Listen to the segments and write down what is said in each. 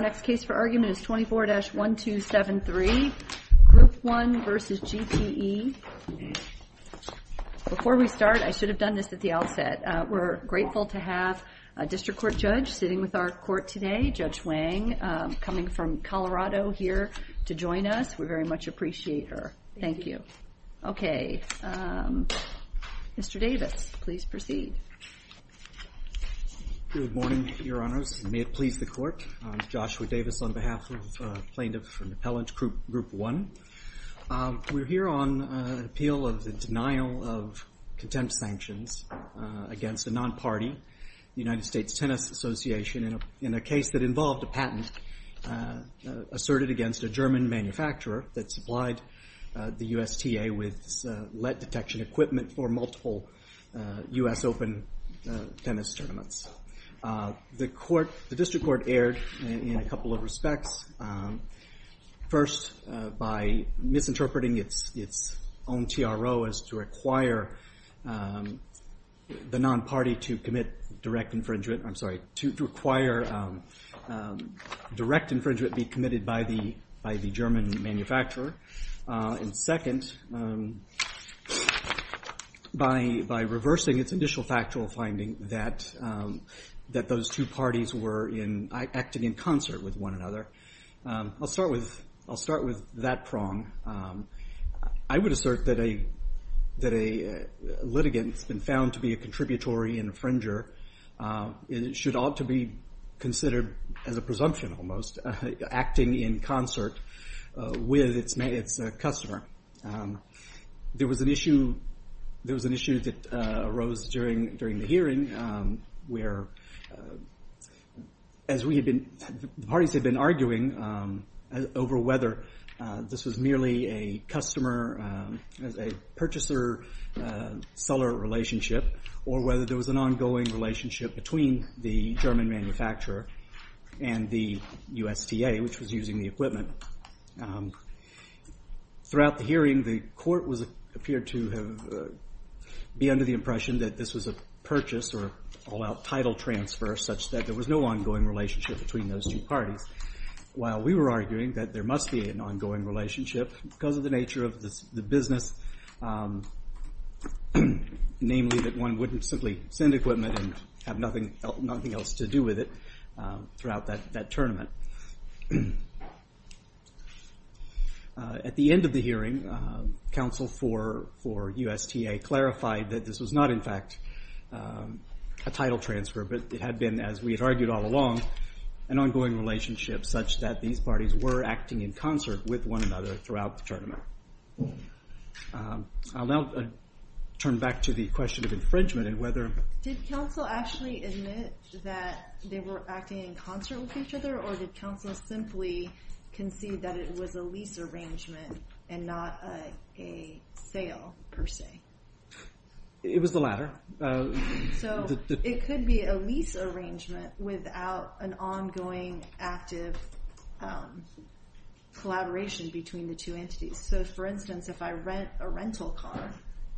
Our next case for argument is 24-1273, Group One v. GTE. Before we start, I should have done this at the outset, we're grateful to have a District Court Judge sitting with our court today, Judge Wang, coming from Colorado here to join us. We very much appreciate her. Thank you. Okay. Mr. Davis, please proceed. Good morning, Your Honors. May it please the Court, I'm Joshua Davis on behalf of Plaintiff and Appellant Group One. We're here on appeal of the denial of contempt sanctions against a non-party, United States Tennis Association, in a case that involved a patent asserted against a German manufacturer that supplied the USTA with lead detection equipment for multiple US Open tennis tournaments. The District Court erred in a couple of respects. First, by misinterpreting its own TRO as to require the non-party to commit direct infringement, I'm sorry, to require direct infringement be committed by the German manufacturer. And second, by reversing its initial factual finding that those two parties were acting in concert with one another. I'll start with that prong. I would assert that a litigant that's been found to be a contributory infringer should ought to be considered as a presumption, almost, acting in concert with its customer. There was an issue that arose during the hearing where, as the parties had been arguing over whether this was merely a customer, a purchaser-seller relationship, or whether there was an ongoing relationship between the German manufacturer and the USTA, which was using the equipment. Throughout the hearing, the court appeared to be under the impression that this was a purchase or all-out title transfer, such that there was no ongoing relationship between those two parties. While we were arguing that there must be an ongoing relationship because of the nature of the business, namely that one wouldn't simply send equipment and have nothing else to do with it throughout that tournament. At the end of the hearing, counsel for USTA clarified that this was not, in fact, a title transfer, but it had been, as we had argued all along, an ongoing relationship such that these parties were acting in concert with one another throughout the tournament. I'll now turn back to the question of infringement and whether- Did counsel actually admit that they were acting in concert with each other, or did counsel simply concede that it was a lease arrangement and not a sale, per se? It was the latter. So it could be a lease arrangement without an ongoing, active collaboration between the two entities. So for instance, if I rent a rental car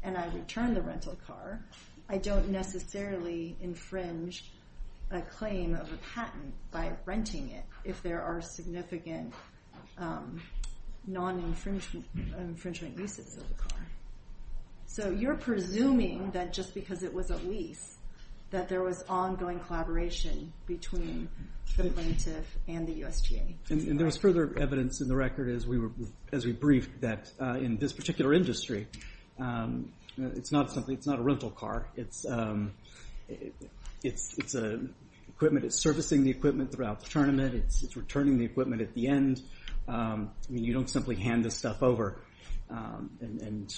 and I return the rental car, I don't necessarily infringe a claim of a patent by renting it if there are significant non-infringement uses of the car. So you're presuming that just because it was a lease, that there was ongoing collaboration between the plaintiff and the USTA. And there was further evidence in the record, as we briefed, that in this particular industry, it's not a rental car, it's equipment that's servicing the equipment throughout the tournament, it's returning the equipment at the end. You don't simply hand this stuff over and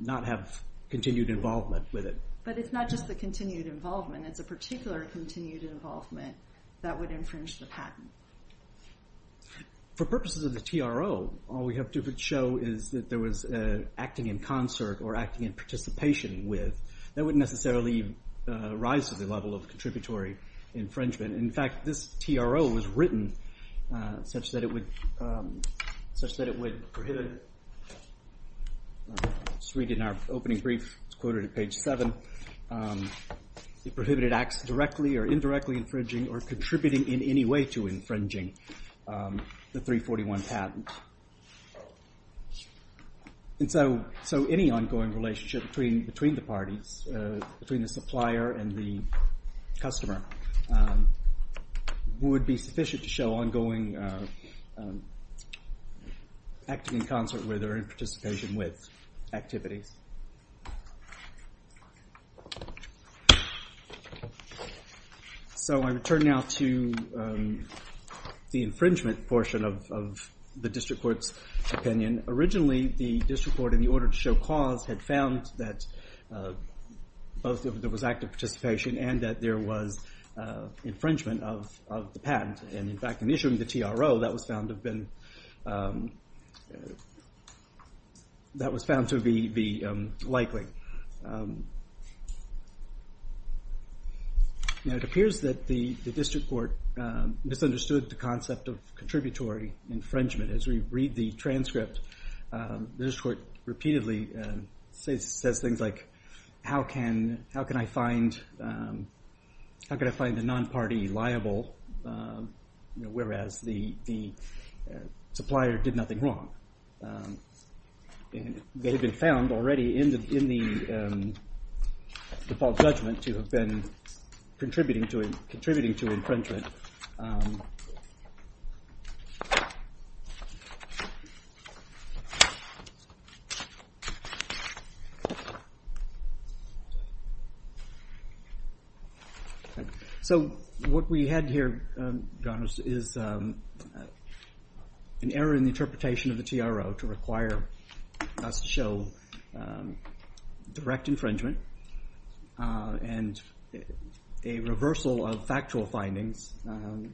not have continued involvement with it. But it's not just the continued involvement, it's a particular continued involvement that would infringe the patent. For purposes of the TRO, all we have to show is that there was acting in concert or acting in participation with, that wouldn't necessarily rise to the level of contributory infringement. In fact, this TRO was written such that it would prohibit, just read it in our opening brief, it's quoted at page seven, it prohibited acts directly or indirectly infringing or contributing in any way to infringing the 341 patent. And so any ongoing relationship between the parties, between the supplier and the customer, would be sufficient to show ongoing acting in concert with or in participation with activities. So I return now to the infringement portion of the district court's opinion. Originally the district court, in the order to show cause, had found that both there was active participation and that there was infringement of the patent. And in fact, in issuing the TRO, that was found to have been, that was found to be the most likely. Now it appears that the district court misunderstood the concept of contributory infringement. As we read the transcript, the district court repeatedly says things like, how can I find the non-party liable, whereas the supplier did nothing wrong. They had been found already in the default judgment to have been contributing to infringement. So, what we had here is an error in the interpretation of the TRO to require us to show direct infringement and a reversal of factual findings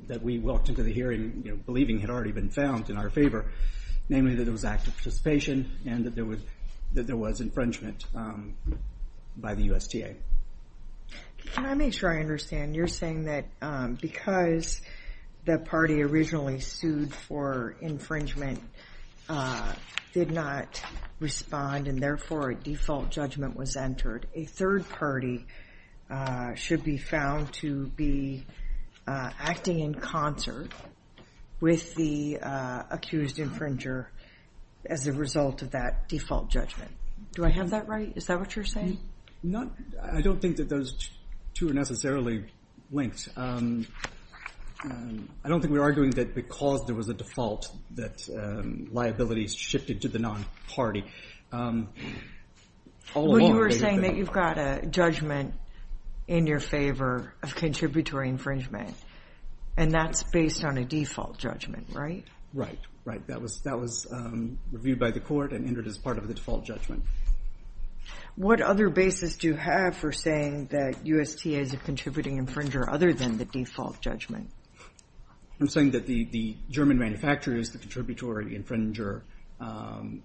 that we walked into the hearing believing had already been found in our favor, namely that it was active participation and that there was infringement by the USTA. Can I make sure I understand? You're saying that because the party originally sued for infringement did not respond and therefore a default judgment was entered, a third party should be found to be acting in concert with the accused infringer as a result of that default judgment. Do I have that right? Is that what you're saying? I don't think that those two are necessarily linked. I don't think we're arguing that because there was a default that liabilities shifted to the non-party. Well, you were saying that you've got a judgment in your favor of contributory infringement and that's based on a default judgment, right? Right, that was reviewed by the court and entered as part of the default judgment. What other basis do you have for saying that USTA is a contributing infringer other than the default judgment? I'm saying that the German manufacturers, the contributory infringer, I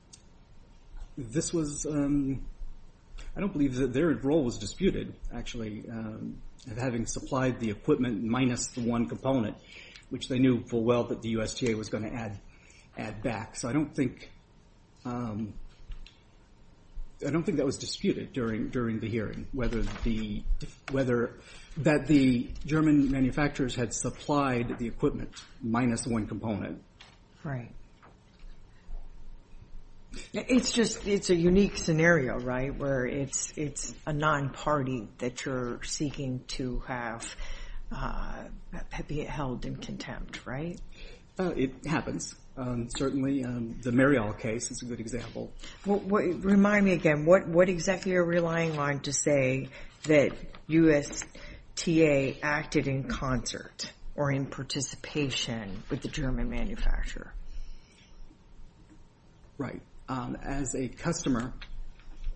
don't believe that their role was disputed actually of having supplied the equipment minus the one component, which they knew full well that the USTA was going to add back. I don't think that was disputed during the hearing, that the German manufacturers had supplied the equipment minus one component. Right. It's just, it's a unique scenario, right, where it's a non-party that you're seeking to have held in contempt, right? It happens, certainly. The Marial case is a good example. Remind me again, what exactly are you relying on to say that USTA acted in concert or in participation with the German manufacturer? Right. As a customer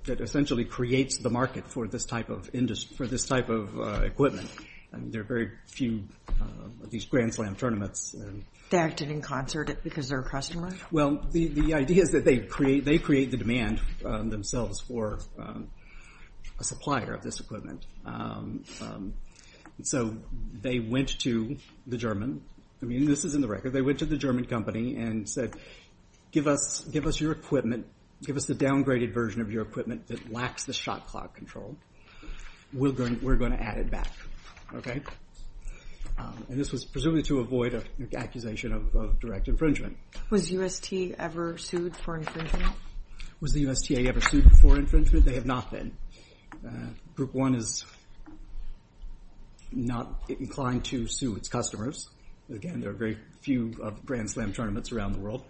that essentially creates the market for this type of equipment, there are very few of these Grand Slam tournaments. They acted in concert because they're a customer? Well, the idea is that they create the demand themselves for a supplier of this equipment. They went to the German, I mean this is in the record, they went to the German company and said, give us your equipment, give us the downgraded version of your equipment that lacks the shot clock control, we're going to add it back, okay? This was presumably to avoid an accusation of direct infringement. Was USTA ever sued for infringement? Was the USTA ever sued for infringement? They have not been. Group One is not inclined to sue its customers. Again, there are very few Grand Slam tournaments around the world.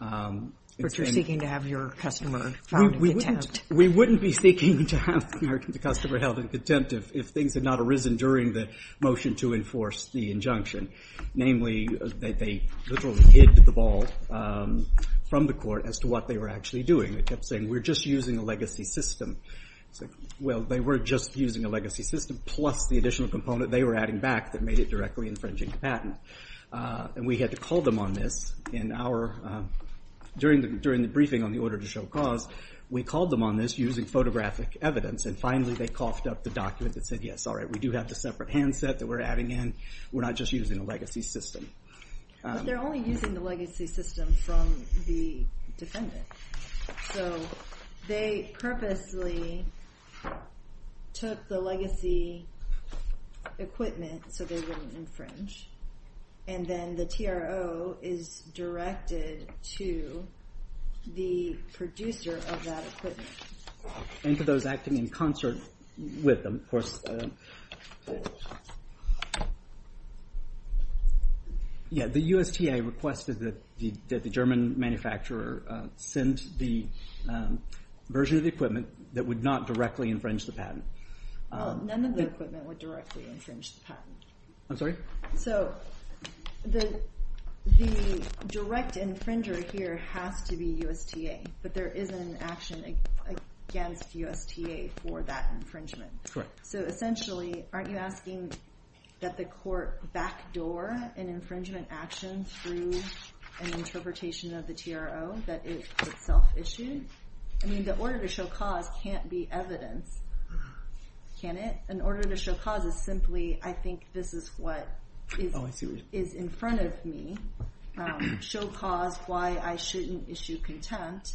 But you're seeking to have your customer held in contempt. We wouldn't be seeking to have the customer held in contempt if things had not arisen during the motion to enforce the injunction, namely that they literally hid the ball from the court as to what they were actually doing. They kept saying, we're just using a legacy system. Well, they were just using a legacy system plus the additional component they were adding back that made it directly infringing the patent. We had to call them on this during the briefing on the order to show cause. We called them on this using photographic evidence and finally they coughed up the document that said, yes, all right, we do have the separate handset that we're adding in. We're not just using a legacy system. But they're only using the legacy system from the defendant. So they purposely took the legacy equipment so they wouldn't infringe. And then the TRO is directed to the producer of that equipment. And to those acting in concert with them, of course. Yeah, the USTA requested that the German manufacturer send the version of the equipment that would not directly infringe the patent. None of the equipment would directly infringe the patent. I'm sorry? So the direct infringer here has to be USTA. But there is an action against USTA for that infringement. So essentially, aren't you asking that the court backdoor an infringement action through an interpretation of the TRO that it itself issued? I mean, the order to show cause can't be evidence, can it? An order to show cause is simply, I think this is what is in front of me. Show cause, why I shouldn't issue contempt.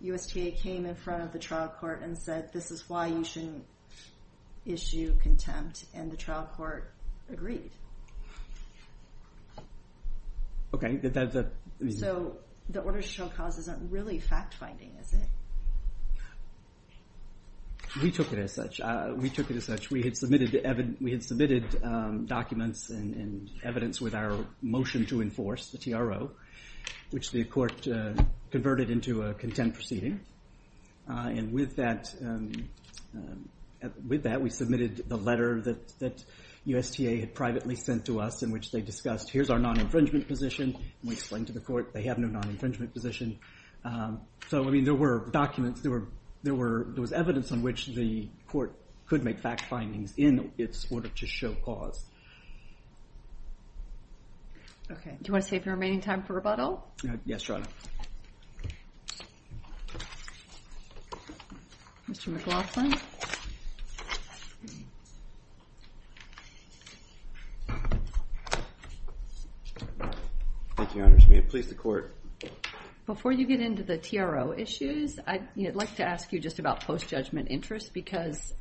USTA came in front of the trial court and said, this is why you shouldn't issue contempt. And the trial court agreed. So the order to show cause isn't really fact-finding, is it? We took it as such. We took it as such. We had submitted documents and evidence with our motion to enforce, the TRO, which the court converted into a contempt proceeding. And with that, we submitted the letter that USTA had privately sent to us in which they discussed, here's our non-infringement position. And we explained to the court, they have no non-infringement position. So, I mean, there were documents, there was evidence on which the court could make fact findings in its order to show cause. OK. Do you want to save your remaining time for rebuttal? Yes, Your Honor. Mr. McLaughlin. Thank you, Your Honor. May it please the court. Before you get into the TRO issues, I'd like to ask you just about post-judgment interest because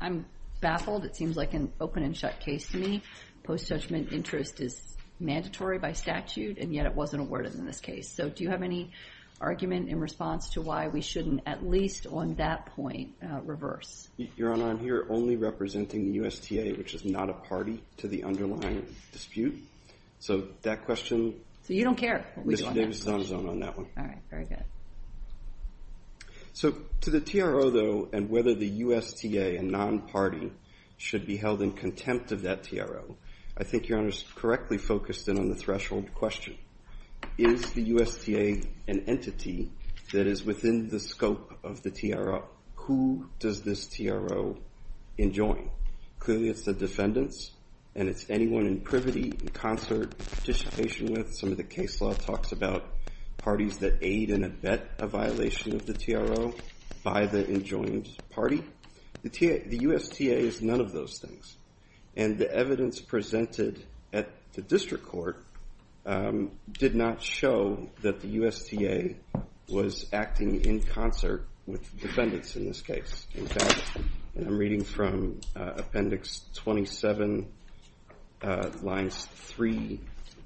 I'm baffled. It seems like an open-and-shut case to me. Post-judgment interest is mandatory by statute, and yet it wasn't awarded in this case. So, do you have any argument in response to why we shouldn't, at least on that point, reverse? Your Honor, I'm here only representing the USTA, which is not a party to the underlying dispute. So, that question... So, you don't care what we do on that question? Ms. Davis is not on that one. All right. Very good. So, to the TRO, though, and whether the USTA, a non-party, should be held in contempt of that TRO, I think Your Honor's correctly focused in on the threshold question. Is the USTA an entity that is within the scope of the TRO? Who does this TRO enjoin? Clearly, it's the defendants, and it's anyone in privity, in concert, participation with. Some of the case law talks about parties that aid in a violation of the TRO by the enjoined party. The USTA is none of those things. And the evidence presented at the district court did not show that the USTA was acting in concert with the defendants in this case. In fact, I'm reading from Appendix 27, lines 3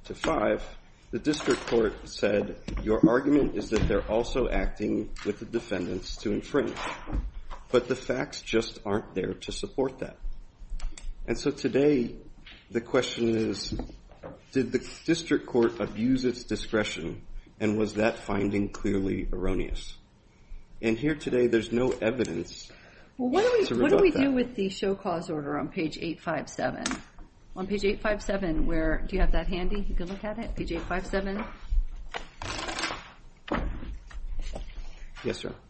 to 5, the district court said, your argument is that they're also acting with the defendants to infringe. But the facts just aren't there to support that. And so today, the question is, did the district court abuse its discretion, and was that finding clearly erroneous? And here today, there's no evidence to rebut that. What do we do with the show cause order on page 857? On page 857, where, do you have that handy? You can look at it, page 857? Yes, Your Honor.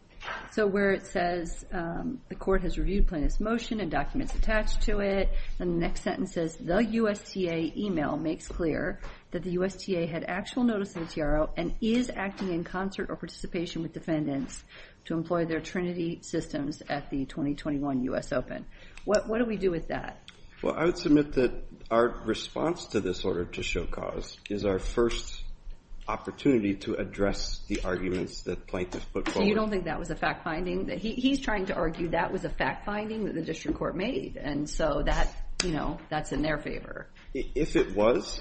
So where it says, the court has reviewed plaintiff's motion, and documents attached to it, and the next sentence says, the USTA email makes clear that the USTA had actual notice of the TRO and is acting in concert or participation with defendants to employ their trinity systems at the 2021 US Open. What do we do with that? Well, I would submit that our response to this order to show cause is our first opportunity to address the arguments that plaintiffs put forward. So you don't think that was a fact finding? He's trying to argue that was a fact finding that the district court made. And so that's in their favor. If it was,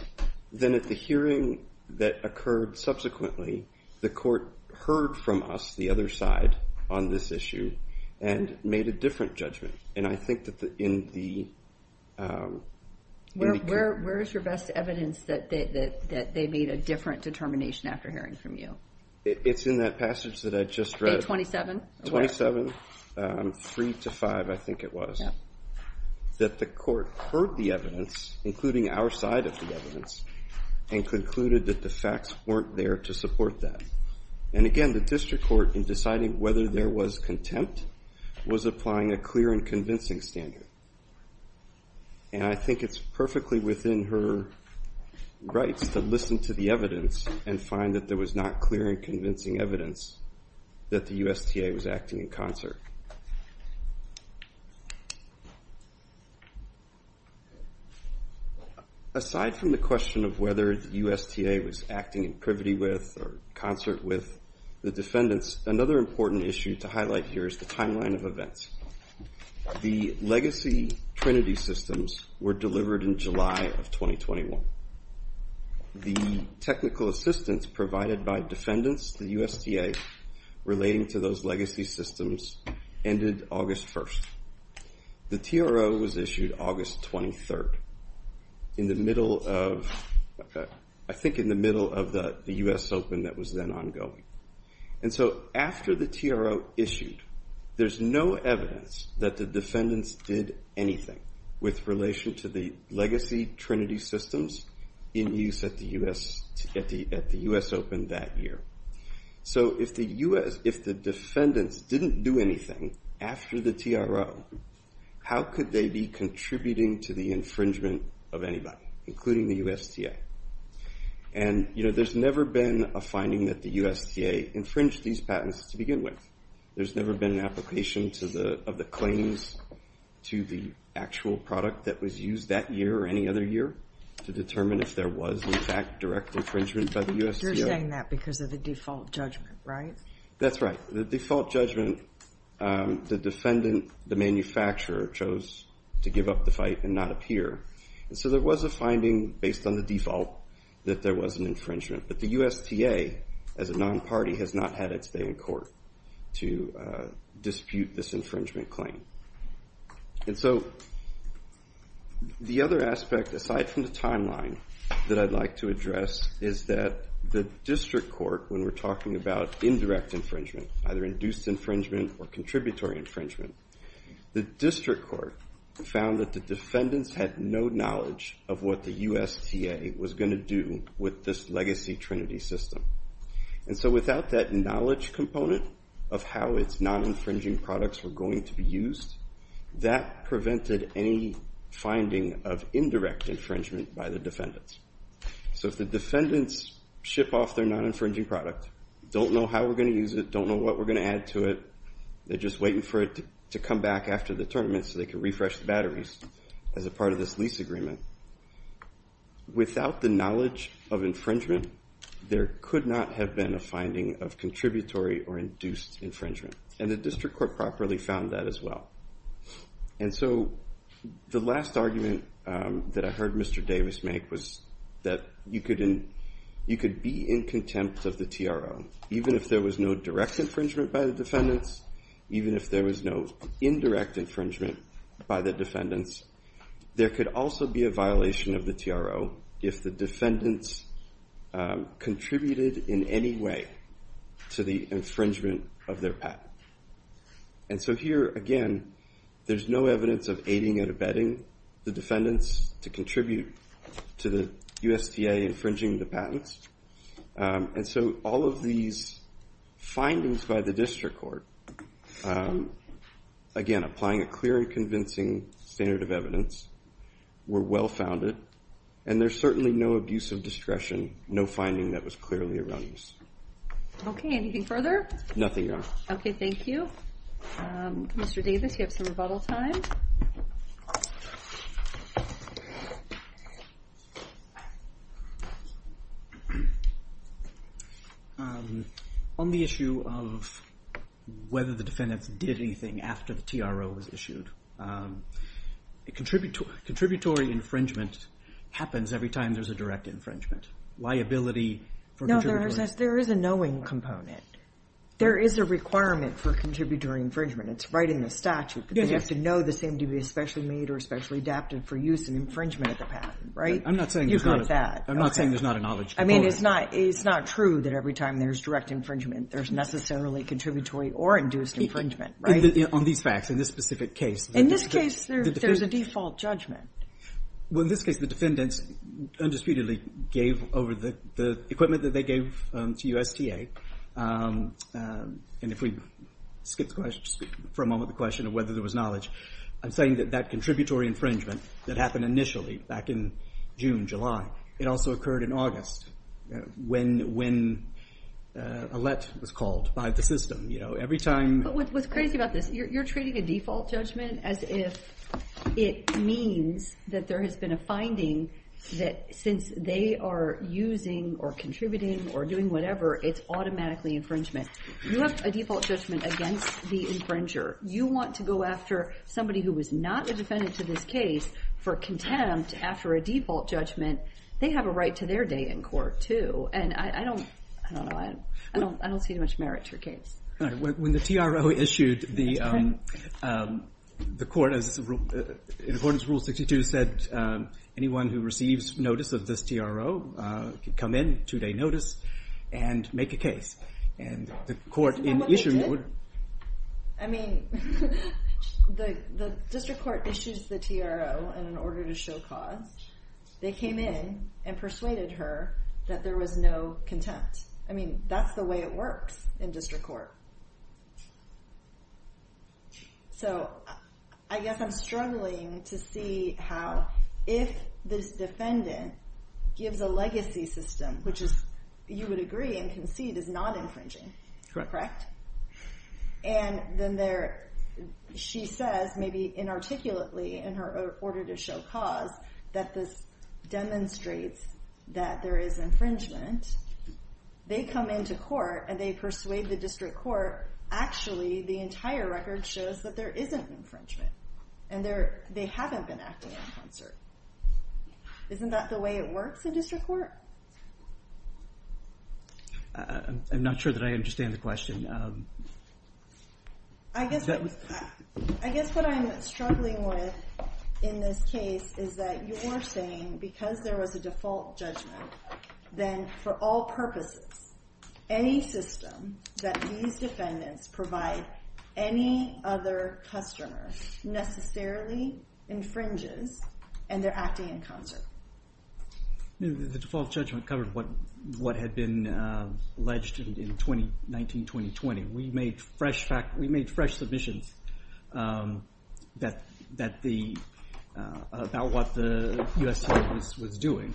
then at the hearing that occurred subsequently, the court heard from us, the other side, on this issue, and made a different judgment. And I think that in the... Where is your best evidence that they made a different determination after hearing from you? It's in that passage that I just read. 27, 3 to 5, I think it was. Yeah. That the court heard the evidence, including our side of the evidence, and concluded that the facts weren't there to support that. And again, the district court, in deciding whether there was contempt, was applying a clear and convincing standard. And I think it's perfectly within her rights to listen to the evidence and find that there was not clear and convincing evidence that the USTA was acting in concert. Aside from the question of whether the USTA was acting in privity with, or concert with, the defendants, another important issue to highlight here is the timeline of events. The legacy Trinity systems were delivered in July of 2021. The technical assistance provided by defendants, the USDA, relating to those legacy systems, ended August 1st. The TRO was issued August 23rd. In the middle of... I think in the middle of the US Open that was then ongoing. And so, after the TRO issued, there's no evidence that the defendants did anything with relation to the legacy Trinity systems in use at the US Open that year. So if the defendants didn't do anything after the TRO, how could they be contributing to the infringement of anybody, including the USTA? And there's never been a finding that the USTA infringed these patents to begin with. There's never been an application of the claims to the actual product that was used that year or any other year to determine if there was, in fact, direct infringement by the USTA. You're saying that because of the default judgment, right? That's right. The default judgment, the defendant, the manufacturer, chose to give up the fight and not appear. So there was a finding, based on the default, that there was an infringement. But the USTA, as a non-party, has not had its day in court to dispute this infringement claim. And so the other aspect, aside from the timeline, that I'd like to address is that the district court, when we're talking about indirect infringement, either induced infringement or contributory infringement, the district court found that the defendants had no knowledge of what the USTA was going to do with this legacy Trinity system. And so without that knowledge component of how its non-infringing products were going to be used, that prevented any finding of indirect infringement by the defendants. So if the defendants ship off their non-infringing product, don't know how we're going to use it, don't know what we're going to add to it, they're just waiting for it to come back after the tournament so they can refresh the batteries as a part of this lease agreement, without the knowledge of infringement, there could not have been a finding of contributory or induced infringement. And the district court properly found that as well. And so the last argument that I heard Mr. Davis make was that you could be in contempt of the TRO, even if there was no direct infringement by the defendants, even if there was no indirect infringement by the defendants, there could also be a violation of the TRO if the defendants contributed in any way to the infringement of their patent. And so here, again, there's no evidence of aiding and abetting the defendants to contribute to the USDA infringing the patents. And so all of these findings by the district court, again, applying a clear and convincing standard of evidence, were well-founded, and there's certainly no abuse of discretion, no finding that was clearly erroneous. Okay, anything further? Nothing, Your Honor. Okay, thank you. Mr. Davis, you have some rebuttal time. On the issue of whether the defendants did anything after the TRO was issued, contributory infringement happens every time there's a direct infringement. Liability for contributory... No, there is a knowing component. There is a requirement for contributory infringement. It's right in the statute. But they have to know the same to be especially made or especially adapted for use in infringement of the patent, right? I'm not saying there's not a knowledge component. I mean, it's not true that every time there's direct infringement, there's necessarily contributory or induced infringement, right? On these facts, in this specific case... In this case, there's a default judgment. Well, in this case, the defendants undisputedly gave over the equipment that they gave to USTA. And if we skip for a moment the question of whether there was knowledge, I'm saying that that contributory infringement that happened initially back in June, July, it also occurred in August when a let was called by the system. But what's crazy about this, you're treating a default judgment as if it means that there has been a finding that since they are using or contributing or doing whatever, it's automatically infringement. You have a default judgment against the infringer. You want to go after somebody who was not a defendant to this case for contempt after a default judgment. They have a right to their day in court, too. And I don't see much merit to a case. When the TRO issued the court, in accordance with Rule 62, said, anyone who receives notice of this TRO can come in, two-day notice, and make a case. And the court in issue... I mean, the district court issues the TRO in order to show cause. They came in and persuaded her that there was no contempt. I mean, that's the way it works in district court. So I guess I'm struggling to see how, if this defendant gives a legacy system, which you would agree and concede is not infringing, correct? And then she says, maybe inarticulately, in her order to show cause, that this demonstrates that there is infringement. They come into court and they persuade the district court. Actually, the entire record shows that there isn't infringement. And they haven't been acting in concert. Isn't that the way it works in district court? I'm not sure that I understand the question. I guess what I'm struggling with in this case is that you're saying, because there was a default judgment, then for all purposes, any system that these defendants provide any other customer necessarily infringes, and they're acting in concert. The default judgment covered what had been alleged in 2019-2020. We made fresh submissions about what the U.S. court was doing.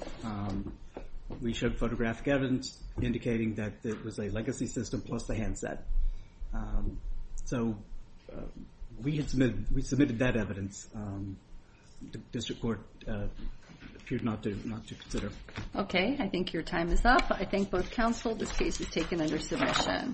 We showed photographic evidence indicating that it was a legacy system plus the handset. So we submitted that evidence. The district court appeared not to consider. Okay, I think your time is up. I thank both counsel. This case is taken under submission.